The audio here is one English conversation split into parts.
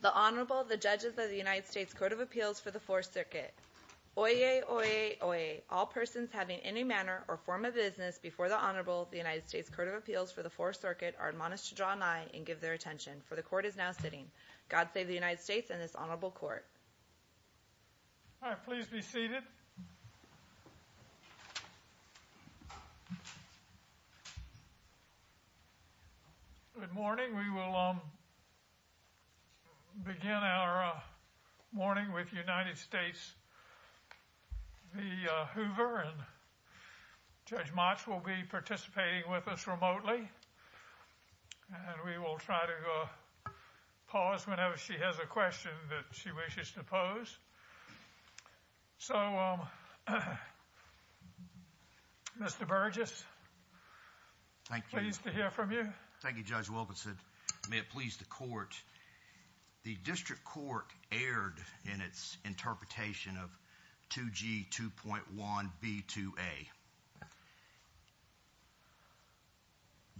The Honorable, the Judges of the United States Court of Appeals for the Fourth Circuit. Oyez! Oyez! Oyez! All persons having any manner or form of business before the Honorable of the United States Court of Appeals for the Fourth Circuit are admonished to draw an eye and give their attention, for the Court is now sitting. God save the United States and this Honorable Court. All right, please be seated. Good morning. We will begin our morning with United States v. Hoover and Judge Motz will be participating with us remotely. And we will try to pause whenever she has a question that she wishes to pose. So, Mr. Burgess, pleased to hear from you. Thank you, Judge Wilkinson. May it please the Court. The District Court erred in its interpretation of 2G 2.1b2a.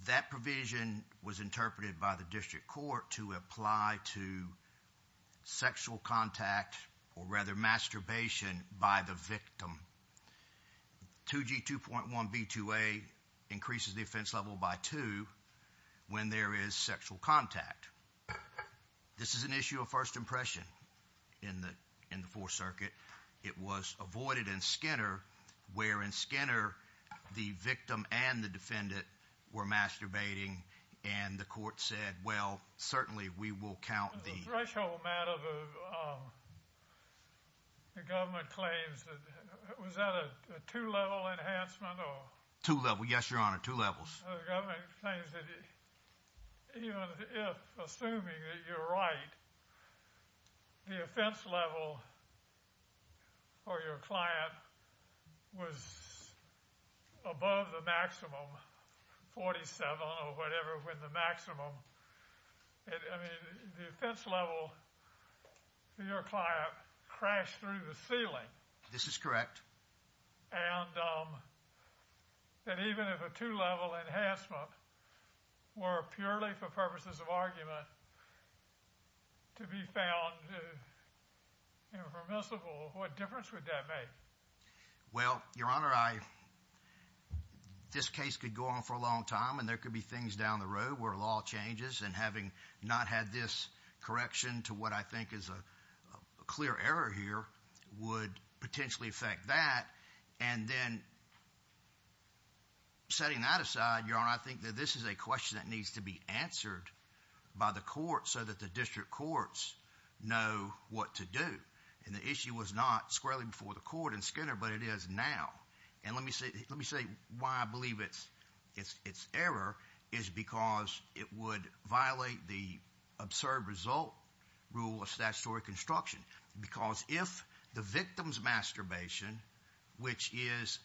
That provision was interpreted by the District Court to apply to sexual contact or rather masturbation by the victim. 2G 2.1b2a increases the offense level by two when there is sexual contact. This is an issue of first impression in the Fourth Circuit. It was avoided in Skinner where in Skinner the victim and the defendant were masturbating and the Court said, well, certainly we will count the... Was that a two-level enhancement? Two-level, yes, Your Honor, two levels. The government claims that even if, assuming that you're right, the offense level for your client was above the maximum, 47 or whatever, when the maximum... I mean, the offense level for your client crashed through the ceiling. This is correct. And that even if a two-level enhancement were purely for purposes of argument to be found impermissible, what difference would that make? Well, Your Honor, this case could go on for a long time and there could be things down the road where law changes and having not had this correction to what I think is a clear error here would potentially affect that. And then setting that aside, Your Honor, I think that this is a question that needs to be answered by the Court so that the District Courts know what to do. And the issue was not squarely before the Court in Skinner, but it is now. And let me say why I believe it's error is because it would violate the absurd result rule of statutory construction. Because if the victim's masturbation, which is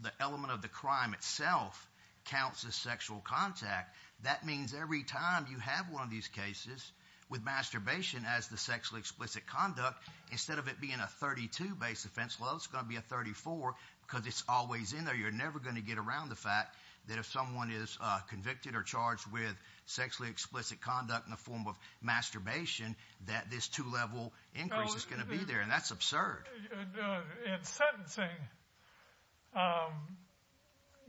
the element of the crime itself, counts as sexual contact, that means every time you have one of these cases with masturbation as the sexually explicit conduct, instead of it being a 32-based offense level, it's going to be a 34 because it's always in there. So you're never going to get around the fact that if someone is convicted or charged with sexually explicit conduct in the form of masturbation, that this two-level increase is going to be there, and that's absurd. In sentencing,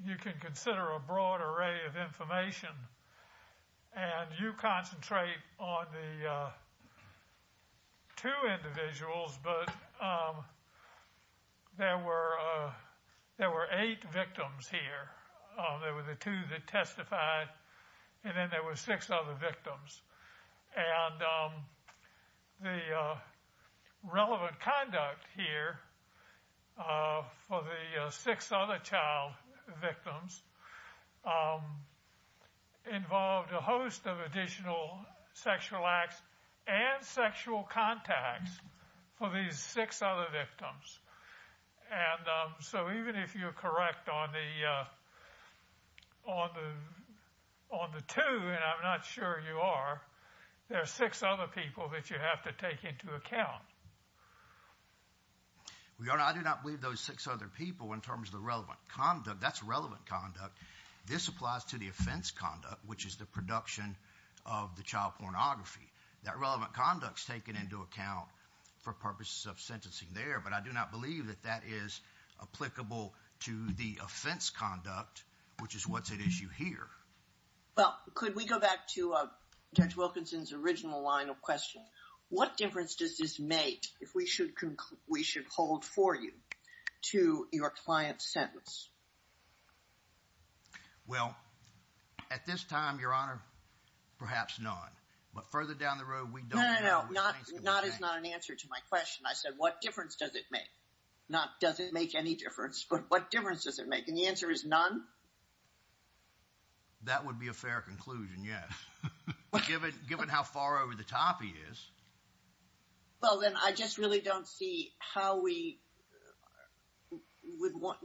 you can consider a broad array of information, and you concentrate on the two individuals, but there were eight victims here. There were the two that testified, and then there were six other victims. And the relevant conduct here for the six other child victims involved a host of additional sexual acts and sexual contacts for these six other victims. And so even if you're correct on the two, and I'm not sure you are, there are six other people that you have to take into account. Your Honor, I do not believe those six other people in terms of the relevant conduct, that's relevant conduct. This applies to the offense conduct, which is the production of the child pornography. That relevant conduct is taken into account for purposes of sentencing there, but I do not believe that that is applicable to the offense conduct, which is what's at issue here. Well, could we go back to Judge Wilkinson's original line of questioning? What difference does this make, if we should hold for you, to your client's sentence? Well, at this time, Your Honor, perhaps none. But further down the road, we don't know. No, no, no. Not as not an answer to my question. I said, what difference does it make? Not does it make any difference, but what difference does it make? And the answer is none. That would be a fair conclusion, yes. Given how far over the top he is. Well, then I just really don't see how we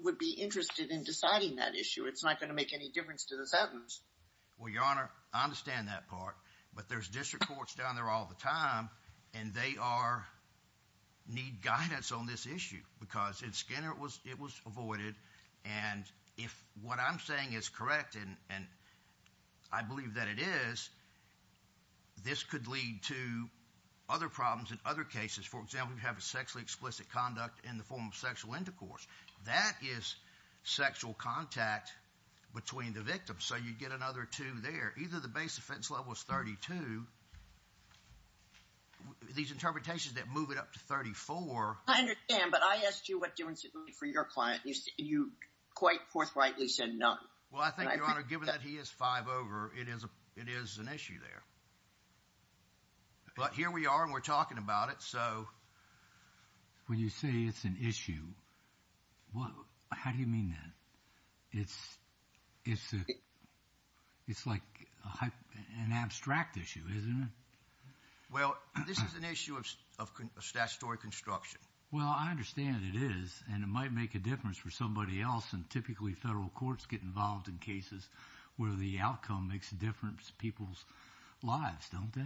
would be interested in deciding that issue. It's not going to make any difference to the sentence. Well, Your Honor, I understand that part, but there's district courts down there all the time, and they need guidance on this issue. Because in Skinner, it was avoided. And if what I'm saying is correct, and I believe that it is, this could lead to other problems in other cases. For example, you have a sexually explicit conduct in the form of sexual intercourse. That is sexual contact between the victim. So you get another two there. Either the base offense level is 32. These interpretations that move it up to 34. I understand, but I asked you what difference it would make for your client. You quite forthrightly said none. Well, I think, Your Honor, given that he is five over, it is an issue there. But here we are, and we're talking about it, so. When you say it's an issue, how do you mean that? It's like an abstract issue, isn't it? Well, this is an issue of statutory construction. Well, I understand it is, and it might make a difference for somebody else. And typically, federal courts get involved in cases where the outcome makes a difference in people's lives, don't they?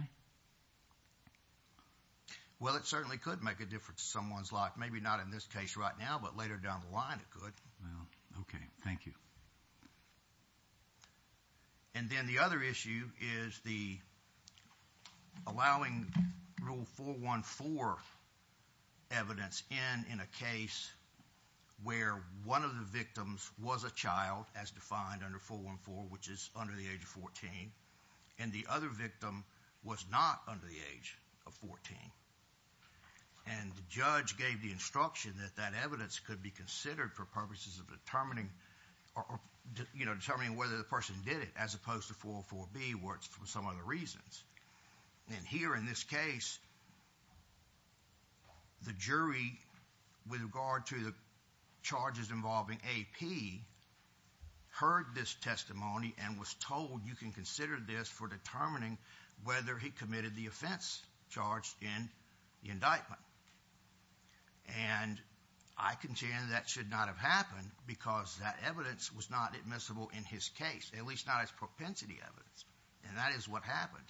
Well, it certainly could make a difference in someone's life. Maybe not in this case right now, but later down the line, it could. Well, okay. Thank you. And then the other issue is the allowing Rule 414 evidence in in a case where one of the victims was a child, as defined under 414, which is under the age of 14. And the other victim was not under the age of 14. And the judge gave the instruction that that evidence could be considered for purposes of determining whether the person did it, as opposed to 404B, where it's for some other reasons. And here in this case, the jury, with regard to the charges involving AP, heard this testimony and was told you can consider this for determining whether he committed the offense charged in the indictment. And I contend that should not have happened because that evidence was not admissible in his case, at least not as propensity evidence. And that is what happened.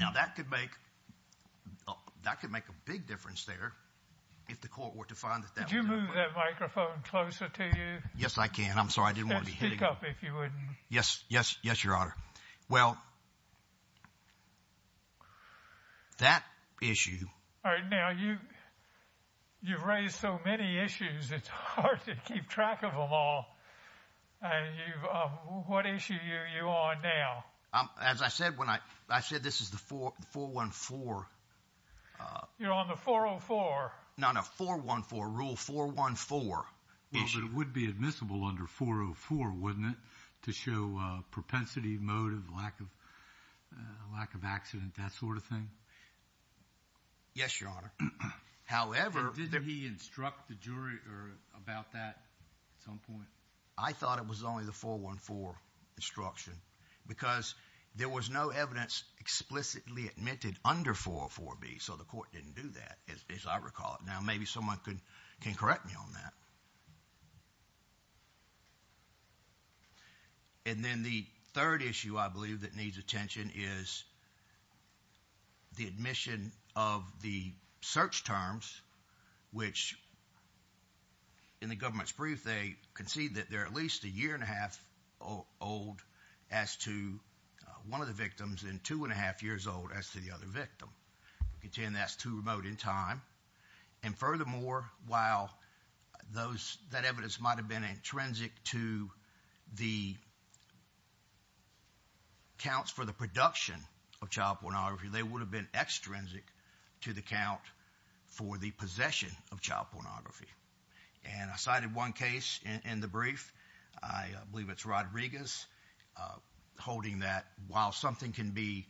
Now, that could make a big difference there if the court were to find that that was the case. Could you move that microphone closer to you? Yes, I can. I'm sorry. I didn't want to be hitting you. Speak up if you wouldn't. Yes, Your Honor. Well, that issue. Now, you've raised so many issues, it's hard to keep track of them all. What issue are you on now? As I said, this is the 414. You're on the 404. No, no. 414. Rule 414. Well, it would be admissible under 404, wouldn't it, to show propensity, motive, lack of accident, that sort of thing? Yes, Your Honor. Did he instruct the jury about that at some point? I thought it was only the 414 instruction because there was no evidence explicitly admitted under 404B. So the court didn't do that, as I recall it. Now, maybe someone can correct me on that. And then the third issue, I believe, that needs attention is the admission of the search terms, which in the government's brief, they concede that they're at least a year and a half old as to one of the victims and two and a half years old as to the other victim. They contend that's too remote in time. And furthermore, while that evidence might have been intrinsic to the counts for the production of child pornography, they would have been extrinsic to the count for the possession of child pornography. And I cited one case in the brief. I believe it's Rodriguez holding that while something can be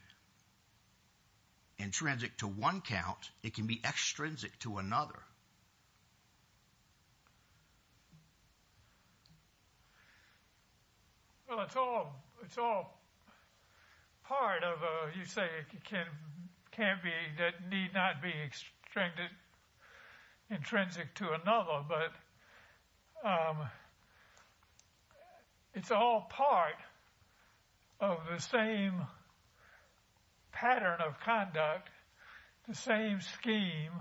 intrinsic to one count, it can be extrinsic to another. Well, it's all part of, you say it can't be that need not be extrinsic to another, but it's all part of the same pattern of conduct, the same scheme,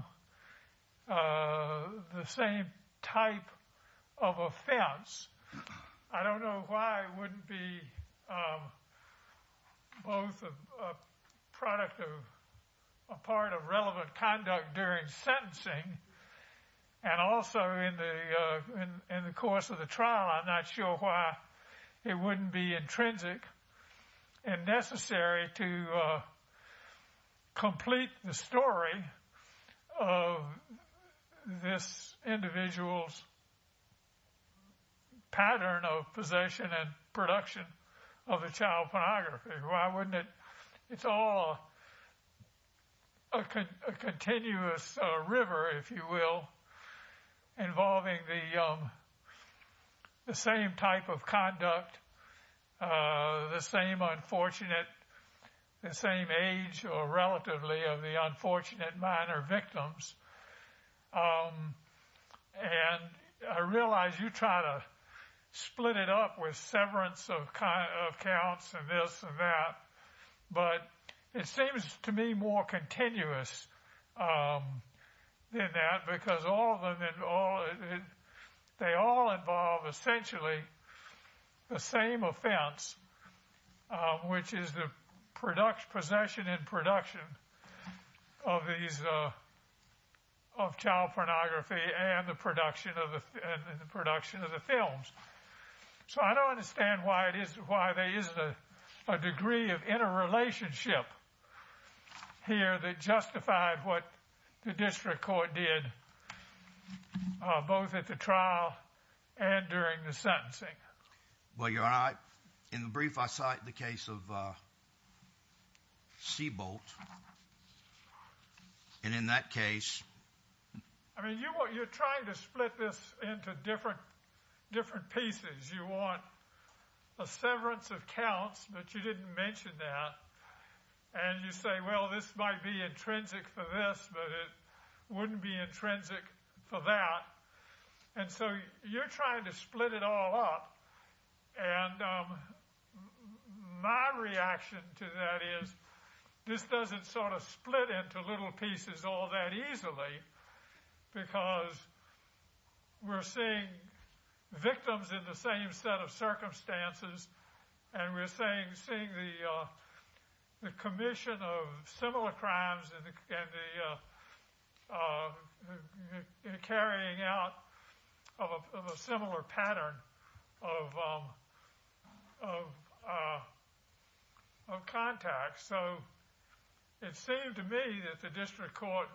the same type of offense. I don't know why it wouldn't be both a product of a part of relevant conduct during sentencing and also in the course of the trial. I'm not sure why it wouldn't be intrinsic and necessary to complete the story of this individual's pattern of possession and production of a child pornography. Why wouldn't it? It's all a continuous river, if you will, involving the same type of conduct, the same unfortunate, the same age or relatively of the unfortunate minor victims. And I realize you try to split it up with severance of counts and this and that, but it seems to me more continuous than that, because all of them, they all involve essentially the same offense, which is the production, possession and production of these of child pornography and the production of the production of the films. So I don't understand why it is, why there isn't a degree of interrelationship here that justified what the district court did both at the trial and during the sentencing. Well, you're right. In the brief, I cite the case of Seabolt. And in that case, I mean, you're trying to split this into different pieces. You want a severance of counts, but you didn't mention that. And you say, well, this might be intrinsic for this, but it wouldn't be intrinsic for that. And so you're trying to split it all up. And my reaction to that is this doesn't sort of split into little pieces all that easily because we're seeing victims in the same set of circumstances. And we're saying seeing the commission of similar crimes and the carrying out of a similar pattern of contacts. So it seemed to me that the district court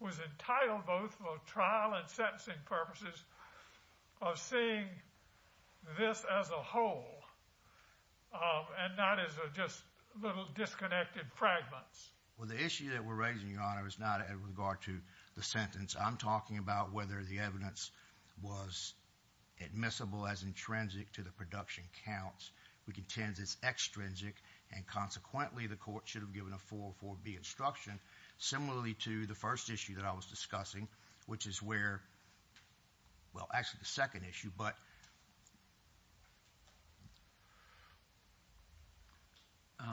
was entitled both for trial and sentencing purposes of seeing this as a whole and not as just little disconnected fragments. Well, the issue that we're raising, Your Honor, is not in regard to the sentence. I'm talking about whether the evidence was admissible as intrinsic to the production counts. We contend it's extrinsic. And consequently, the court should have given a 404B instruction similarly to the first issue that I was discussing, which is where, well, actually the second issue. But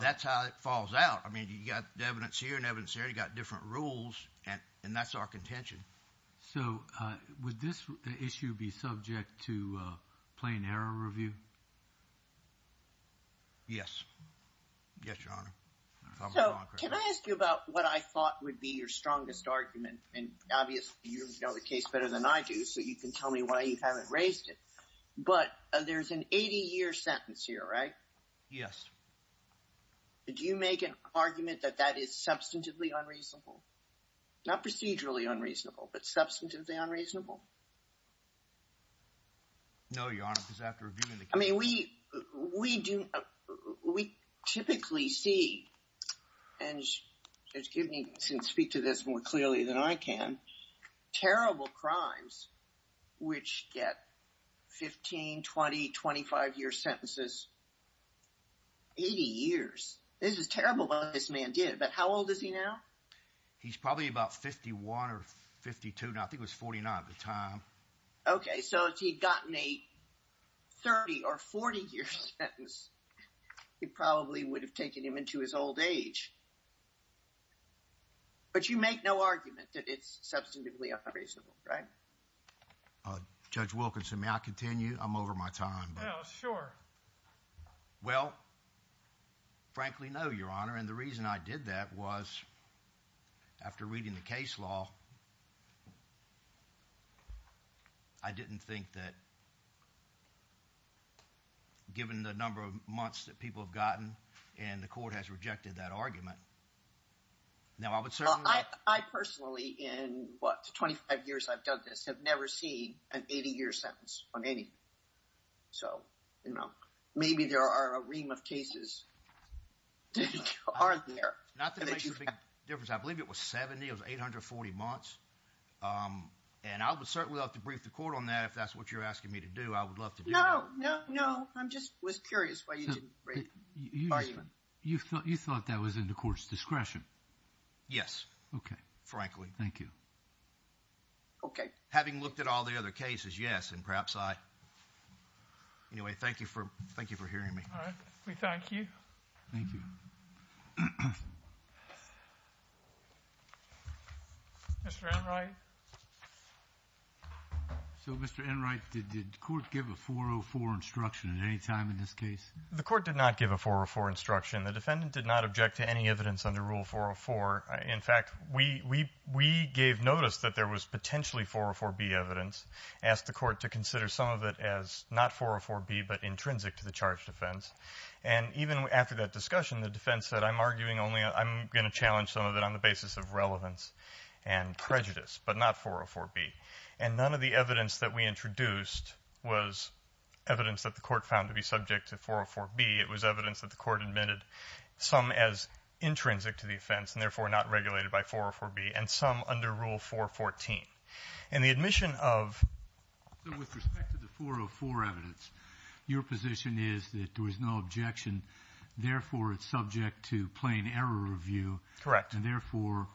that's how it falls out. I mean, you've got the evidence here and evidence there. You've got different rules. And that's our contention. So would this issue be subject to plain error review? Yes. Yes, Your Honor. So can I ask you about what I thought would be your strongest argument? And obviously, you know the case better than I do, so you can tell me why you haven't raised it. But there's an 80-year sentence here, right? Yes. Did you make an argument that that is substantively unreasonable? Not procedurally unreasonable, but substantively unreasonable? No, Your Honor, because after reviewing the case… I mean, we typically see, and excuse me, I can speak to this more clearly than I can, terrible crimes which get 15, 20, 25-year sentences, 80 years. This is terrible what this man did, but how old is he now? He's probably about 51 or 52, and I think he was 49 at the time. Okay, so if he had gotten a 30- or 40-year sentence, he probably would have taken him into his old age. But you make no argument that it's substantively unreasonable, right? Judge Wilkinson, may I continue? I'm over my time. Well, sure. Well, frankly, no, Your Honor, and the reason I did that was after reading the case law, I didn't think that given the number of months that people have gotten and the court has rejected that argument. Now, I would certainly… Well, I personally, in what, 25 years I've done this, have never seen an 80-year sentence on anything. So, you know, maybe there are a ream of cases that are there. Not that it makes a big difference. I believe it was 70, it was 840 months, and I would certainly love to brief the court on that if that's what you're asking me to do. I would love to do that. No, no, no. I just was curious why you didn't brief the court. You thought that was in the court's discretion? Yes. Okay. Frankly. Thank you. Okay. Having looked at all the other cases, yes, and perhaps I… Anyway, thank you for hearing me. All right. We thank you. Thank you. Mr. Enright. So, Mr. Enright, did the court give a 404 instruction at any time in this case? The court did not give a 404 instruction. The defendant did not object to any evidence under Rule 404. In fact, we gave notice that there was potentially 404B evidence, asked the court to consider some of it as not 404B but intrinsic to the charge defense. And even after that discussion, the defense said, I'm arguing only I'm going to challenge some of it on the basis of relevance and prejudice, but not 404B. And none of the evidence that we introduced was evidence that the court found to be subject to 404B. It was evidence that the court admitted some as intrinsic to the offense and, therefore, not regulated by 404B and some under Rule 414. And the admission of… So, with respect to the 404 evidence, your position is that there was no objection. Therefore, it's subject to plain error review. Correct. And, therefore,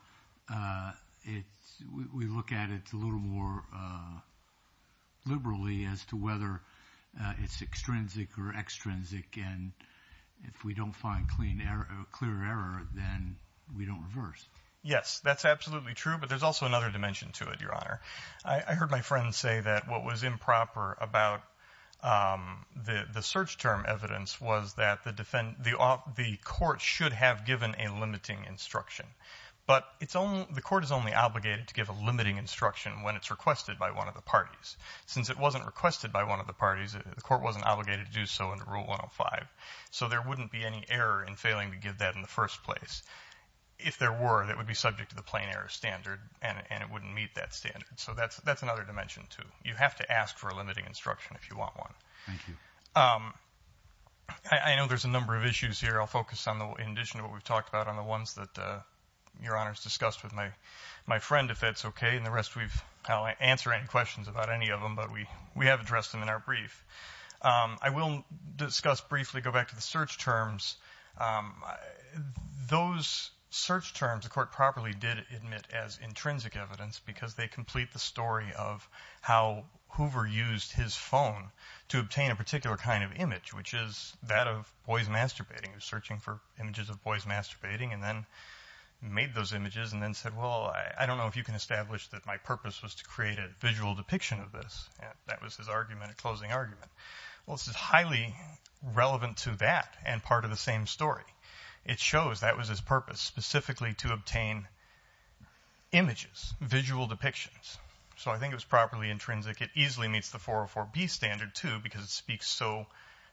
we look at it a little more liberally as to whether it's extrinsic or extrinsic. And if we don't find clear error, then we don't reverse. Yes, that's absolutely true. But there's also another dimension to it, Your Honor. I heard my friend say that what was improper about the search term evidence was that the court should have given a limiting instruction. But the court is only obligated to give a limiting instruction when it's requested by one of the parties. Since it wasn't requested by one of the parties, the court wasn't obligated to do so under Rule 105. So there wouldn't be any error in failing to give that in the first place. If there were, that would be subject to the plain error standard, and it wouldn't meet that standard. So that's another dimension, too. You have to ask for a limiting instruction if you want one. Thank you. I know there's a number of issues here. I'll focus on, in addition to what we've talked about, on the ones that Your Honor has discussed with my friend, if that's okay. And the rest, I'll answer any questions about any of them. But we have addressed them in our brief. I will discuss briefly, go back to the search terms. Those search terms the court properly did admit as intrinsic evidence because they complete the story of how Hoover used his phone to obtain a particular kind of image, which is that of boys masturbating. He was searching for images of boys masturbating and then made those images and then said, well, I don't know if you can establish that my purpose was to create a visual depiction of this. That was his argument, a closing argument. Well, this is highly relevant to that and part of the same story. It shows that was his purpose, specifically to obtain images, visual depictions. So I think it was properly intrinsic. It easily meets the 404B standard, too, because it speaks so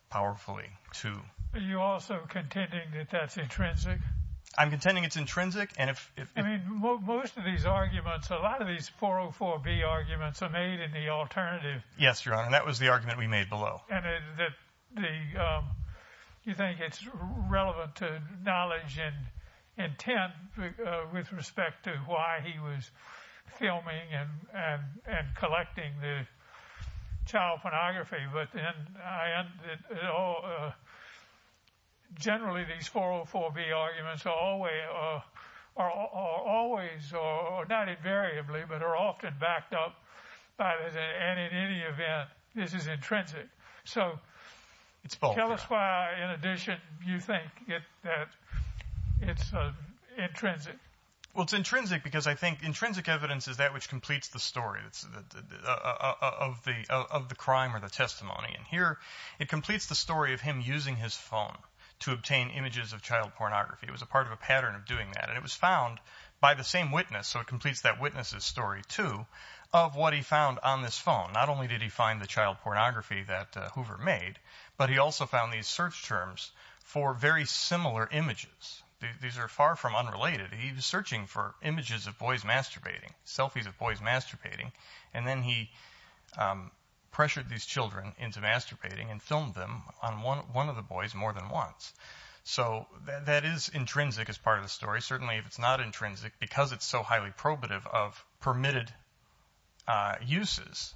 powerfully, too. Are you also contending that that's intrinsic? I'm contending it's intrinsic. I mean, most of these arguments, a lot of these 404B arguments are made in the alternative. Yes, Your Honor, that was the argument we made below. And you think it's relevant to knowledge and intent with respect to why he was filming and collecting the child pornography, but generally these 404B arguments are always, or not invariably, but are often backed up by this and in any event, this is intrinsic. So tell us why in addition you think that it's intrinsic. Well, it's intrinsic because I think intrinsic evidence is that which completes the story of the crime or the testimony. And here it completes the story of him using his phone to obtain images of child pornography. It was a part of a pattern of doing that. And it was found by the same witness, so it completes that witness's story, too, of what he found on this phone. Not only did he find the child pornography that Hoover made, but he also found these search terms for very similar images. These are far from unrelated. He was searching for images of boys masturbating, selfies of boys masturbating, and then he pressured these children into masturbating and filmed them on one of the boys more than once. So that is intrinsic as part of the story. Certainly if it's not intrinsic because it's so highly probative of permitted uses,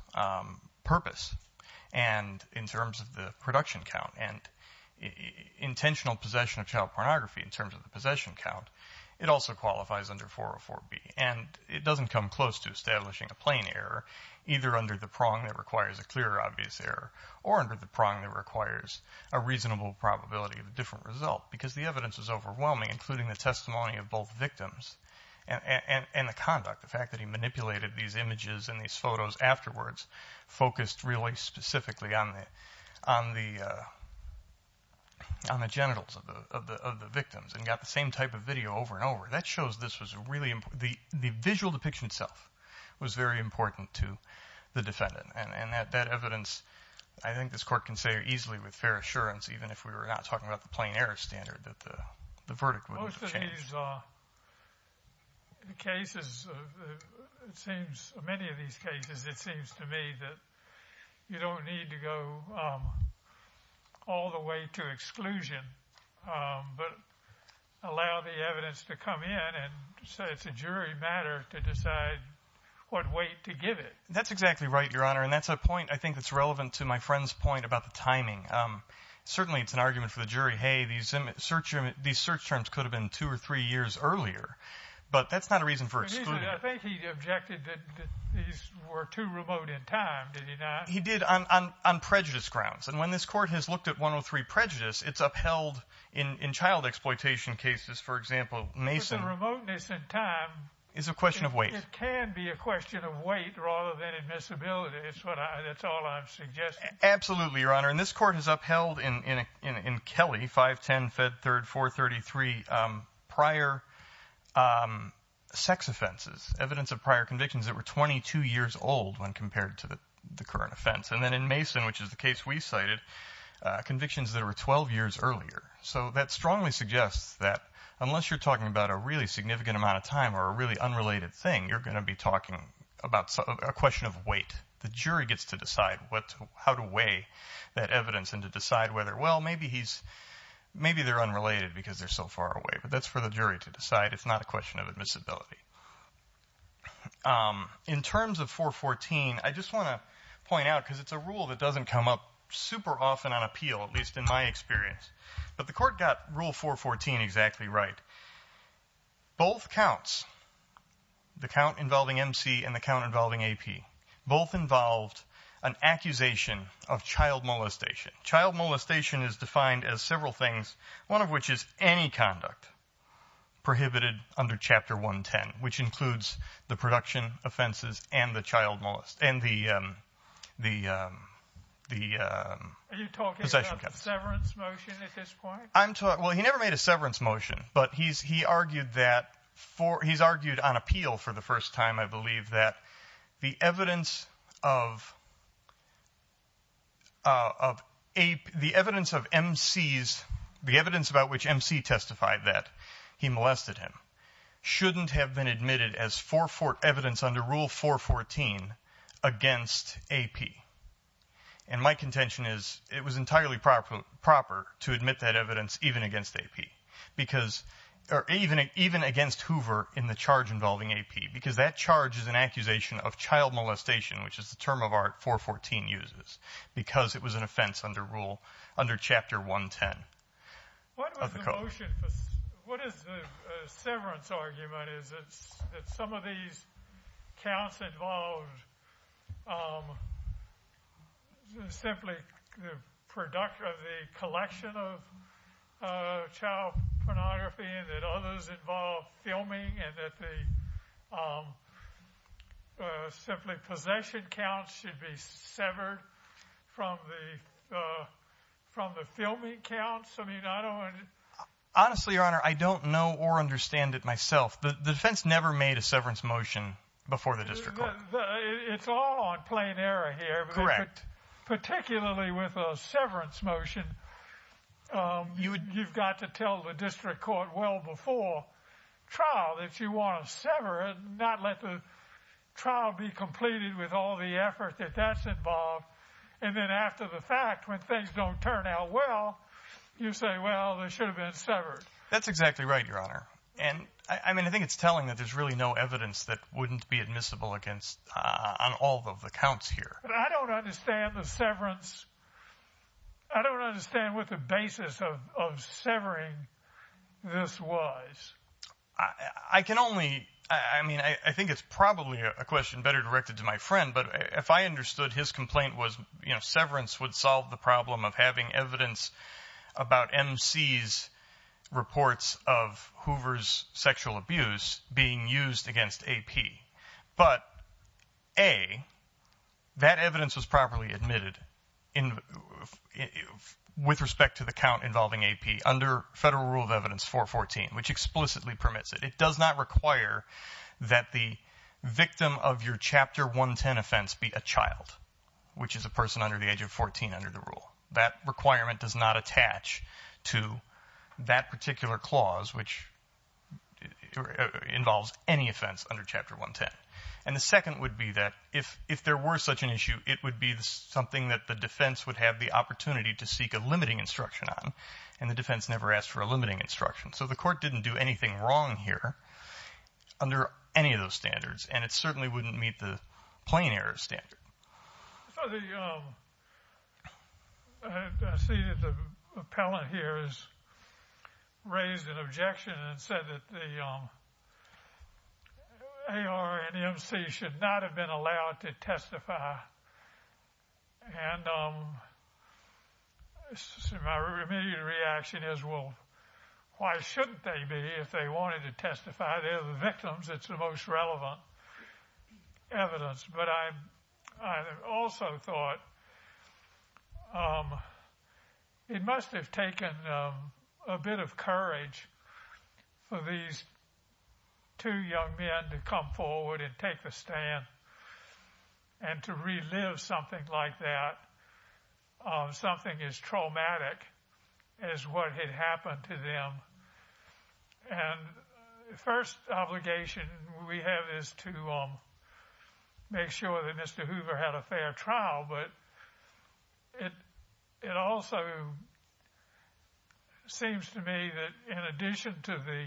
purpose, and in terms of the production count and intentional possession of child pornography in terms of the possession count, it also qualifies under 404B. And it doesn't come close to establishing a plain error either under the prong that requires a clear obvious error or under the prong that requires a reasonable probability of a different result because the evidence is overwhelming, including the testimony of both victims and the conduct, the fact that he manipulated these images and these photos afterwards focused really specifically on the genitals of the victims and got the same type of video over and over. That shows this was really important. The visual depiction itself was very important to the defendant, and that evidence I think this court can say easily with fair assurance, even if we were not talking about the plain error standard, that the verdict would have changed. Most of these cases, it seems, many of these cases, it seems to me that you don't need to go all the way to exclusion but allow the evidence to come in and say it's a jury matter to decide what weight to give it. That's exactly right, Your Honor, and that's a point I think that's relevant to my friend's point about the timing. Certainly it's an argument for the jury, hey, these search terms could have been two or three years earlier, but that's not a reason for exclusion. I think he objected that these were too remote in time, did he not? He did on prejudice grounds. And when this court has looked at 103 Prejudice, it's upheld in child exploitation cases. For example, Mason— But the remoteness in time— Is a question of weight. It can be a question of weight rather than admissibility. That's all I'm suggesting. Absolutely, Your Honor, and this court has upheld in Kelly, 510, Fed 3rd, 433, prior sex offenses, evidence of prior convictions that were 22 years old when compared to the current offense. And then in Mason, which is the case we cited, convictions that were 12 years earlier. So that strongly suggests that unless you're talking about a really significant amount of time or a really unrelated thing, you're going to be talking about a question of weight. The jury gets to decide how to weigh that evidence and to decide whether, well, maybe they're unrelated because they're so far away, but that's for the jury to decide. It's not a question of admissibility. In terms of 414, I just want to point out, because it's a rule that doesn't come up super often on appeal, at least in my experience, but the court got Rule 414 exactly right. Both counts, the count involving MC and the count involving AP, both involved an accusation of child molestation. Child molestation is defined as several things, one of which is any conduct prohibited under Chapter 110, which includes the production offenses and the child molestation. Are you talking about a severance motion at this point? Well, he never made a severance motion, but he's argued on appeal for the first time, I believe, that the evidence of MC's, the evidence about which MC testified that he molested him, shouldn't have been admitted as evidence under Rule 414 against AP. And my contention is it was entirely proper to admit that evidence even against AP, or even against Hoover in the charge involving AP, because that charge is an accusation of child molestation, which is the term of art 414 uses, because it was an offense under Chapter 110. What is the severance argument? Is it that some of these counts involved simply the collection of child pornography and that others involved filming and that the simply possession counts should be severed from the filming counts? Honestly, Your Honor, I don't know or understand it myself. The defense never made a severance motion before the district court. It's all on plain error here. Correct. And particularly with a severance motion, you've got to tell the district court well before trial that you want to sever it, not let the trial be completed with all the effort that that's involved. And then after the fact, when things don't turn out well, you say, well, they should have been severed. That's exactly right, Your Honor. And, I mean, I think it's telling that there's really no evidence that wouldn't be admissible on all of the counts here. I don't understand the severance. I don't understand what the basis of severing this was. I can only, I mean, I think it's probably a question better directed to my friend, but if I understood his complaint was, you know, severance would solve the problem of having evidence about MC's reports of Hoover's sexual abuse being used against AP. But, A, that evidence was properly admitted with respect to the count involving AP under Federal Rule of Evidence 414, which explicitly permits it. It does not require that the victim of your Chapter 110 offense be a child, which is a person under the age of 14 under the rule. That requirement does not attach to that particular clause, which involves any offense under Chapter 110. And the second would be that if there were such an issue, it would be something that the defense would have the opportunity to seek a limiting instruction on, and the defense never asked for a limiting instruction. So the Court didn't do anything wrong here under any of those standards, and it certainly wouldn't meet the plain error standard. I see that the appellant here has raised an objection and said that the AR and MC should not have been allowed to testify, and my immediate reaction is, well, why shouldn't they be if they wanted to testify? The idea of the victims, it's the most relevant evidence. But I also thought it must have taken a bit of courage for these two young men to come forward and take the stand and to relive something like that, something as traumatic as what had happened to them. And the first obligation we have is to make sure that Mr. Hoover had a fair trial, but it also seems to me that in addition to the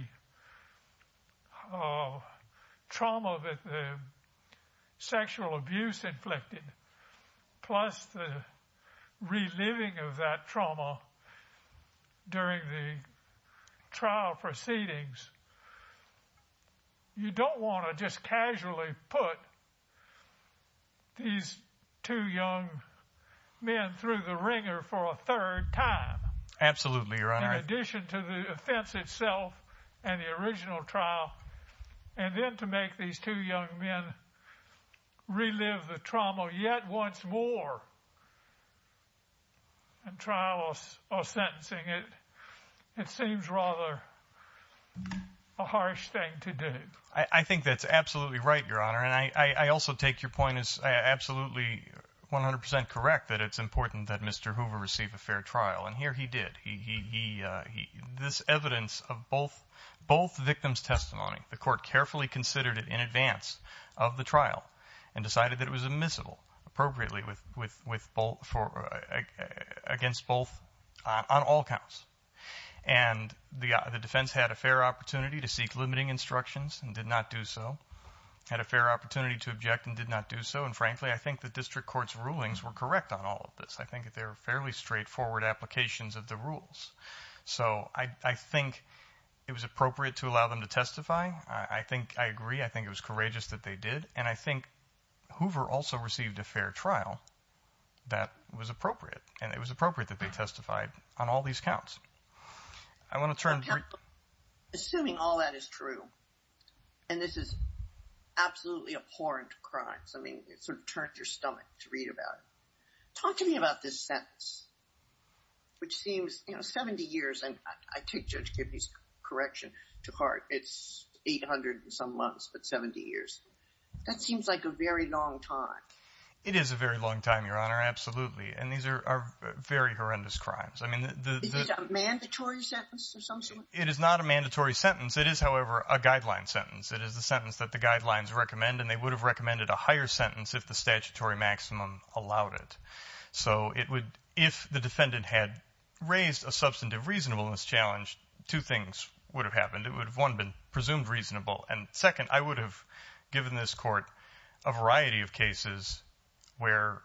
trauma that the sexual abuse inflicted, plus the reliving of that trauma during the trial proceedings, you don't want to just casually put these two young men through the wringer for a third time. In addition to the offense itself and the original trial, and then to make these two young men relive the trauma yet once more in trial or sentencing, it seems rather a harsh thing to do. I think that's absolutely right, Your Honor, and I also take your point as absolutely 100% correct that it's important that Mr. Hoover receive a fair trial, and here he did. This evidence of both victims' testimony, the court carefully considered it in advance of the trial and decided that it was admissible appropriately against both on all counts. And the defense had a fair opportunity to seek limiting instructions and did not do so, had a fair opportunity to object and did not do so, and frankly, I think the district court's rulings were correct on all of this. I think they're fairly straightforward applications of the rules. So I think it was appropriate to allow them to testify. I think I agree. I think it was courageous that they did, and I think Hoover also received a fair trial that was appropriate, and it was appropriate that they testified on all these counts. I want to turn to… Assuming all that is true, and this is absolutely abhorrent crimes. I mean it sort of turns your stomach to read about it. Talk to me about this sentence, which seems 70 years, and I take Judge Kibbe's correction to heart. It's 800 and some months, but 70 years. That seems like a very long time. It is a very long time, Your Honor, absolutely, and these are very horrendous crimes. Is it a mandatory sentence of some sort? It is not a mandatory sentence. It is, however, a guideline sentence. It is a sentence that the guidelines recommend, and they would have recommended a higher sentence if the statutory maximum allowed it. So if the defendant had raised a substantive reasonableness challenge, two things would have happened. It would have, one, been presumed reasonable, and, second, I would have given this court a variety of cases where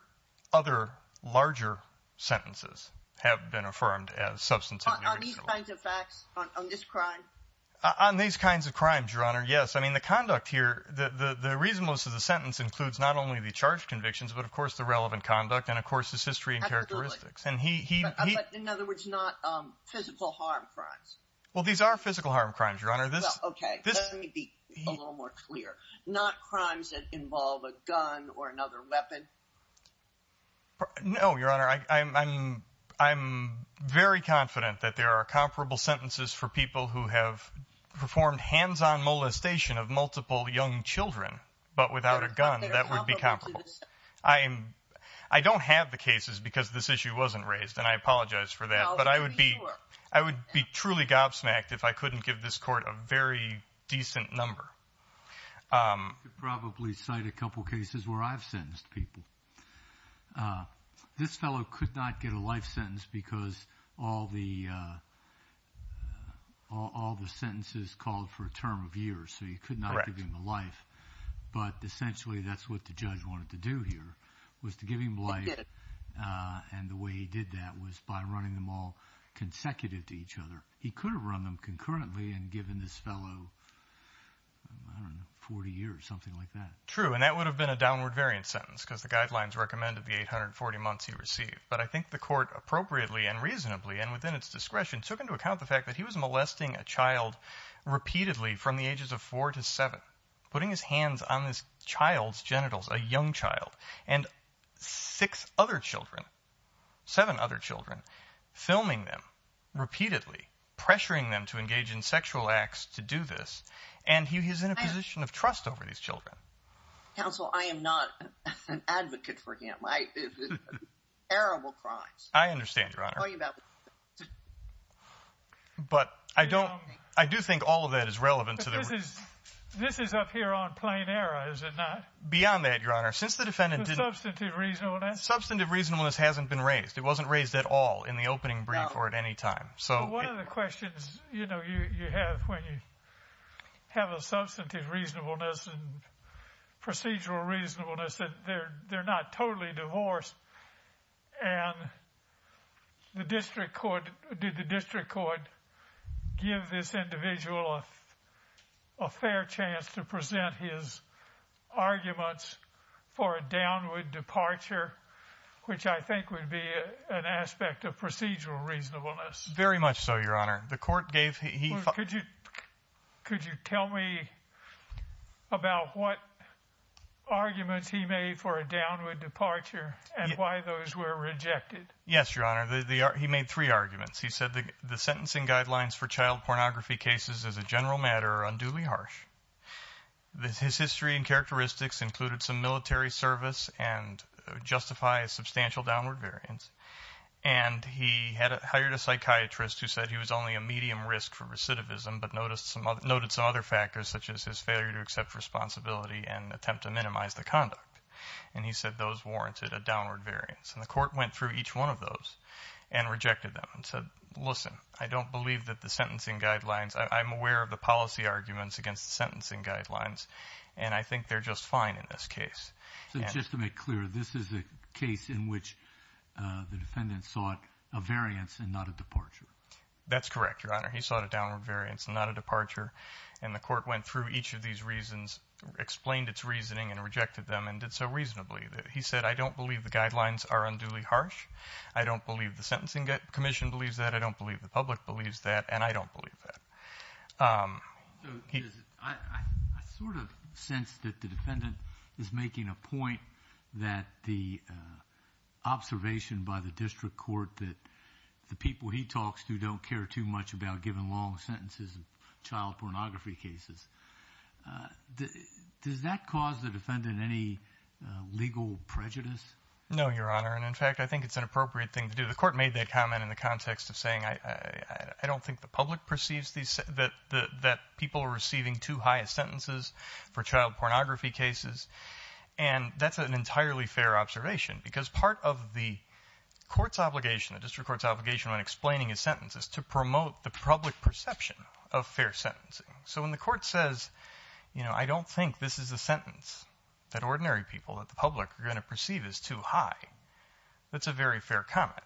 other larger sentences have been affirmed as substantive reasonableness. On these kinds of facts, on this crime? On these kinds of crimes, Your Honor, yes. I mean, the conduct here, the reasonableness of the sentence includes not only the charged convictions, but, of course, the relevant conduct and, of course, his history and characteristics. Absolutely, but, in other words, not physical harm crimes. Well, these are physical harm crimes, Your Honor. Well, okay, let me be a little more clear. Not crimes that involve a gun or another weapon? No, Your Honor, I'm very confident that there are comparable sentences for people who have performed hands-on molestation of multiple young children, but without a gun, that would be comparable. I don't have the cases because this issue wasn't raised, and I apologize for that. But I would be truly gobsmacked if I couldn't give this court a very decent number. I could probably cite a couple cases where I've sentenced people. This fellow could not get a life sentence because all the sentences called for a term of years, so you could not give him a life, but essentially that's what the judge wanted to do here was to give him life, and the way he did that was by running them all consecutive to each other. He could have run them concurrently and given this fellow, I don't know, 40 years, something like that. True, and that would have been a downward variant sentence because the guidelines recommended the 840 months he received. But I think the court appropriately and reasonably and within its discretion took into account the fact that he was molesting a child repeatedly from the ages of 4 to 7, putting his hands on this child's genitals, a young child, and 6 other children, 7 other children, filming them repeatedly, pressuring them to engage in sexual acts to do this, and he was in a position of trust over these children. Counsel, I am not an advocate for him. It's a terrible crime. I understand, Your Honor. But I do think all of that is relevant to the... But this is up here on plain error, is it not? Beyond that, Your Honor, since the defendant... Substantive reasonableness? Substantive reasonableness hasn't been raised. It wasn't raised at all in the opening brief or at any time. One of the questions, you know, you have when you have a substantive reasonableness and procedural reasonableness that they're not totally divorced, and did the district court give this individual a fair chance to present his arguments for a downward departure, which I think would be an aspect of procedural reasonableness. Very much so, Your Honor. The court gave... Could you tell me about what arguments he made for a downward departure and why those were rejected? Yes, Your Honor. He made three arguments. He said the sentencing guidelines for child pornography cases as a general matter are unduly harsh. His history and characteristics included some military service and justify a substantial downward variance. And he had hired a psychiatrist who said he was only a medium risk for recidivism but noted some other factors such as his failure to accept responsibility and attempt to minimize the conduct. And he said those warranted a downward variance. And the court went through each one of those and rejected them and said, listen, I don't believe that the sentencing guidelines... I'm aware of the policy arguments against the sentencing guidelines, and I think they're just fine in this case. So just to make clear, this is a case in which the defendant sought a variance and not a departure. That's correct, Your Honor. He sought a downward variance and not a departure. And the court went through each of these reasons, explained its reasoning, and rejected them and did so reasonably. He said, I don't believe the guidelines are unduly harsh. I don't believe the sentencing commission believes that. I don't believe the public believes that. And I don't believe that. I sort of sense that the defendant is making a point that the observation by the district court that the people he talks to don't care too much about giving long sentences in child pornography cases, does that cause the defendant any legal prejudice? No, Your Honor. And, in fact, I think it's an appropriate thing to do. The court made that comment in the context of saying, I don't think the public perceives that people are receiving too high sentences for child pornography cases. And that's an entirely fair observation because part of the court's obligation, the district court's obligation when explaining his sentence, is to promote the public perception of fair sentencing. So when the court says, you know, I don't think this is a sentence that ordinary people, that the public, are going to perceive as too high, that's a very fair comment.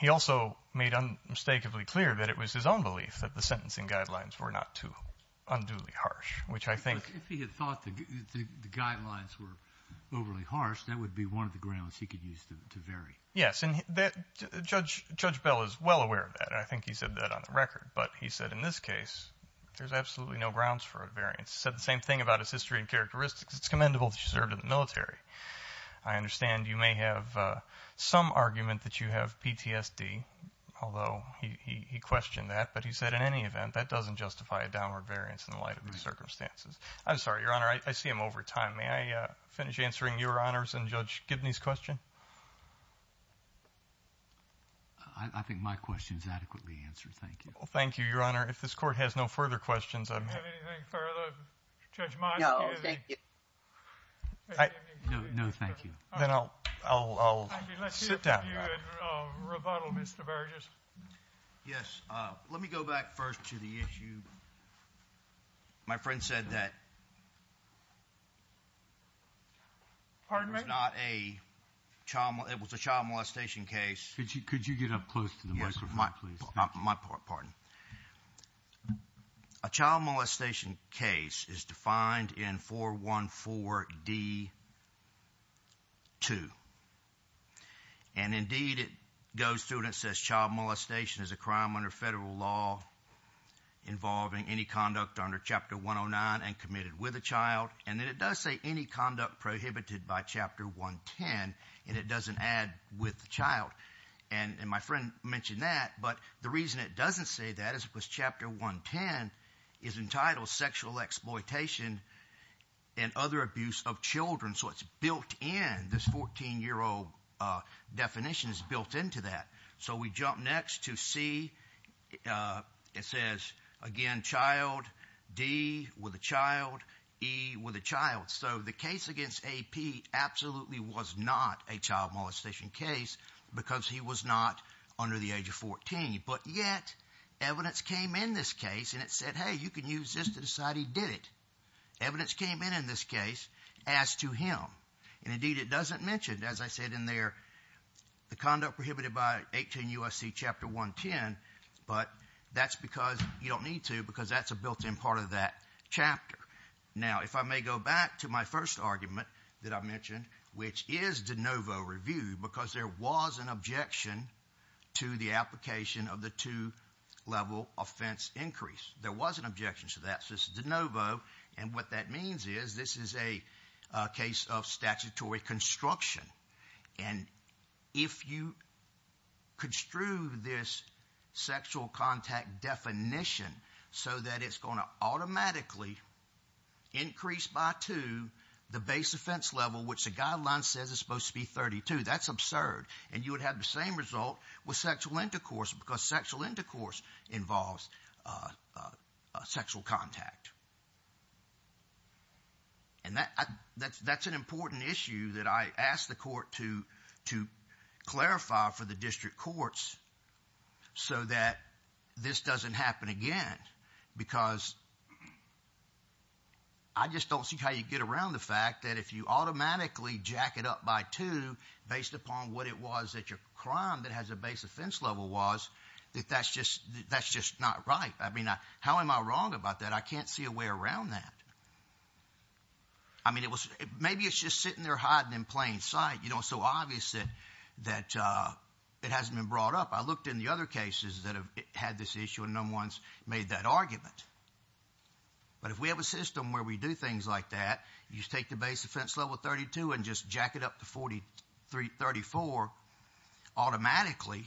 He also made unmistakably clear that it was his own belief that the sentencing guidelines were not too unduly harsh, which I think. But if he had thought the guidelines were overly harsh, that would be one of the grounds he could use to vary. Yes, and Judge Bell is well aware of that. I think he said that on the record. But he said, in this case, there's absolutely no grounds for a variance. He said the same thing about his history and characteristics. It's commendable that you served in the military. I understand you may have some argument that you have PTSD, although he questioned that. But he said, in any event, that doesn't justify a downward variance in the light of the circumstances. I'm sorry, Your Honor. I see I'm over time. May I finish answering Your Honor's and Judge Gibney's question? I think my question is adequately answered. Thank you. Well, thank you, Your Honor. If this court has no further questions, I'm here. Do you have anything further, Judge Montague? No, thank you. No, thank you. Then I'll sit down. Let's hear from you in rebuttal, Mr. Burgess. Yes. Let me go back first to the issue. My friend said that it was a child molestation case. Could you get up close to the microphone, please? My pardon. A child molestation case is defined in 414D2. And, indeed, it goes through and it says child molestation is a crime under federal law involving any conduct under Chapter 109 and committed with a child. And then it does say any conduct prohibited by Chapter 110, and it doesn't add with the child. And my friend mentioned that, but the reason it doesn't say that is because Chapter 110 is entitled sexual exploitation and other abuse of children. So it's built in. This 14-year-old definition is built into that. So we jump next to C. It says, again, child, D, with a child, E, with a child. So the case against A.P. absolutely was not a child molestation case because he was not under the age of 14. But yet evidence came in this case, and it said, hey, you can use this to decide he did it. Evidence came in in this case as to him. And, indeed, it doesn't mention, as I said in there, the conduct prohibited by 18 U.S.C. Chapter 110, but that's because you don't need to because that's a built-in part of that chapter. Now, if I may go back to my first argument that I mentioned, which is de novo review, because there was an objection to the application of the two-level offense increase. There was an objection to that. So this is de novo, and what that means is this is a case of statutory construction. And if you construe this sexual contact definition so that it's going to automatically increase by two the base offense level, which the guideline says it's supposed to be 32, that's absurd. And you would have the same result with sexual intercourse because sexual intercourse involves sexual contact. And that's an important issue that I asked the court to clarify for the district courts so that this doesn't happen again because I just don't see how you get around the fact that if you automatically jack it up by two based upon what it was that your crime that has a base offense level was, that that's just not right. I mean, how am I wrong about that? I can't see a way around that. I mean, maybe it's just sitting there hiding in plain sight. You know, it's so obvious that it hasn't been brought up. I looked in the other cases that have had this issue, and no one's made that argument. But if we have a system where we do things like that, you take the base offense level of 32 and just jack it up to 34 automatically.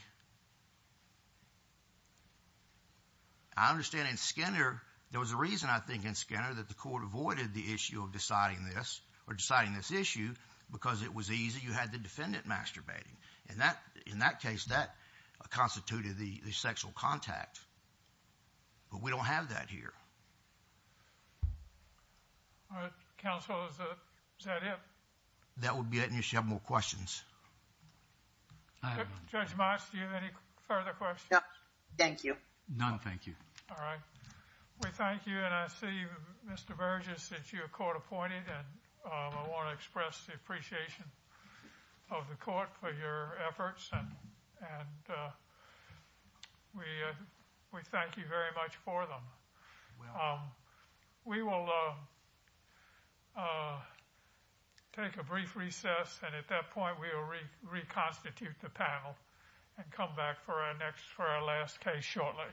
I understand in Skinner, there was a reason, I think, in Skinner that the court avoided the issue of deciding this or deciding this issue because it was easy. You had the defendant masturbating. And in that case, that constituted the sexual contact. But we don't have that here. All right. Counsel, is that it? That would be it. And you should have more questions. Judge Mats, do you have any further questions? No, thank you. None, thank you. All right. We thank you. And I see Mr. Burgess, that you're court appointed. And I want to express the appreciation of the court for your efforts. And we thank you very much for them. We will take a brief recess. And at that point, we will reconstitute the panel and come back for our last case shortly.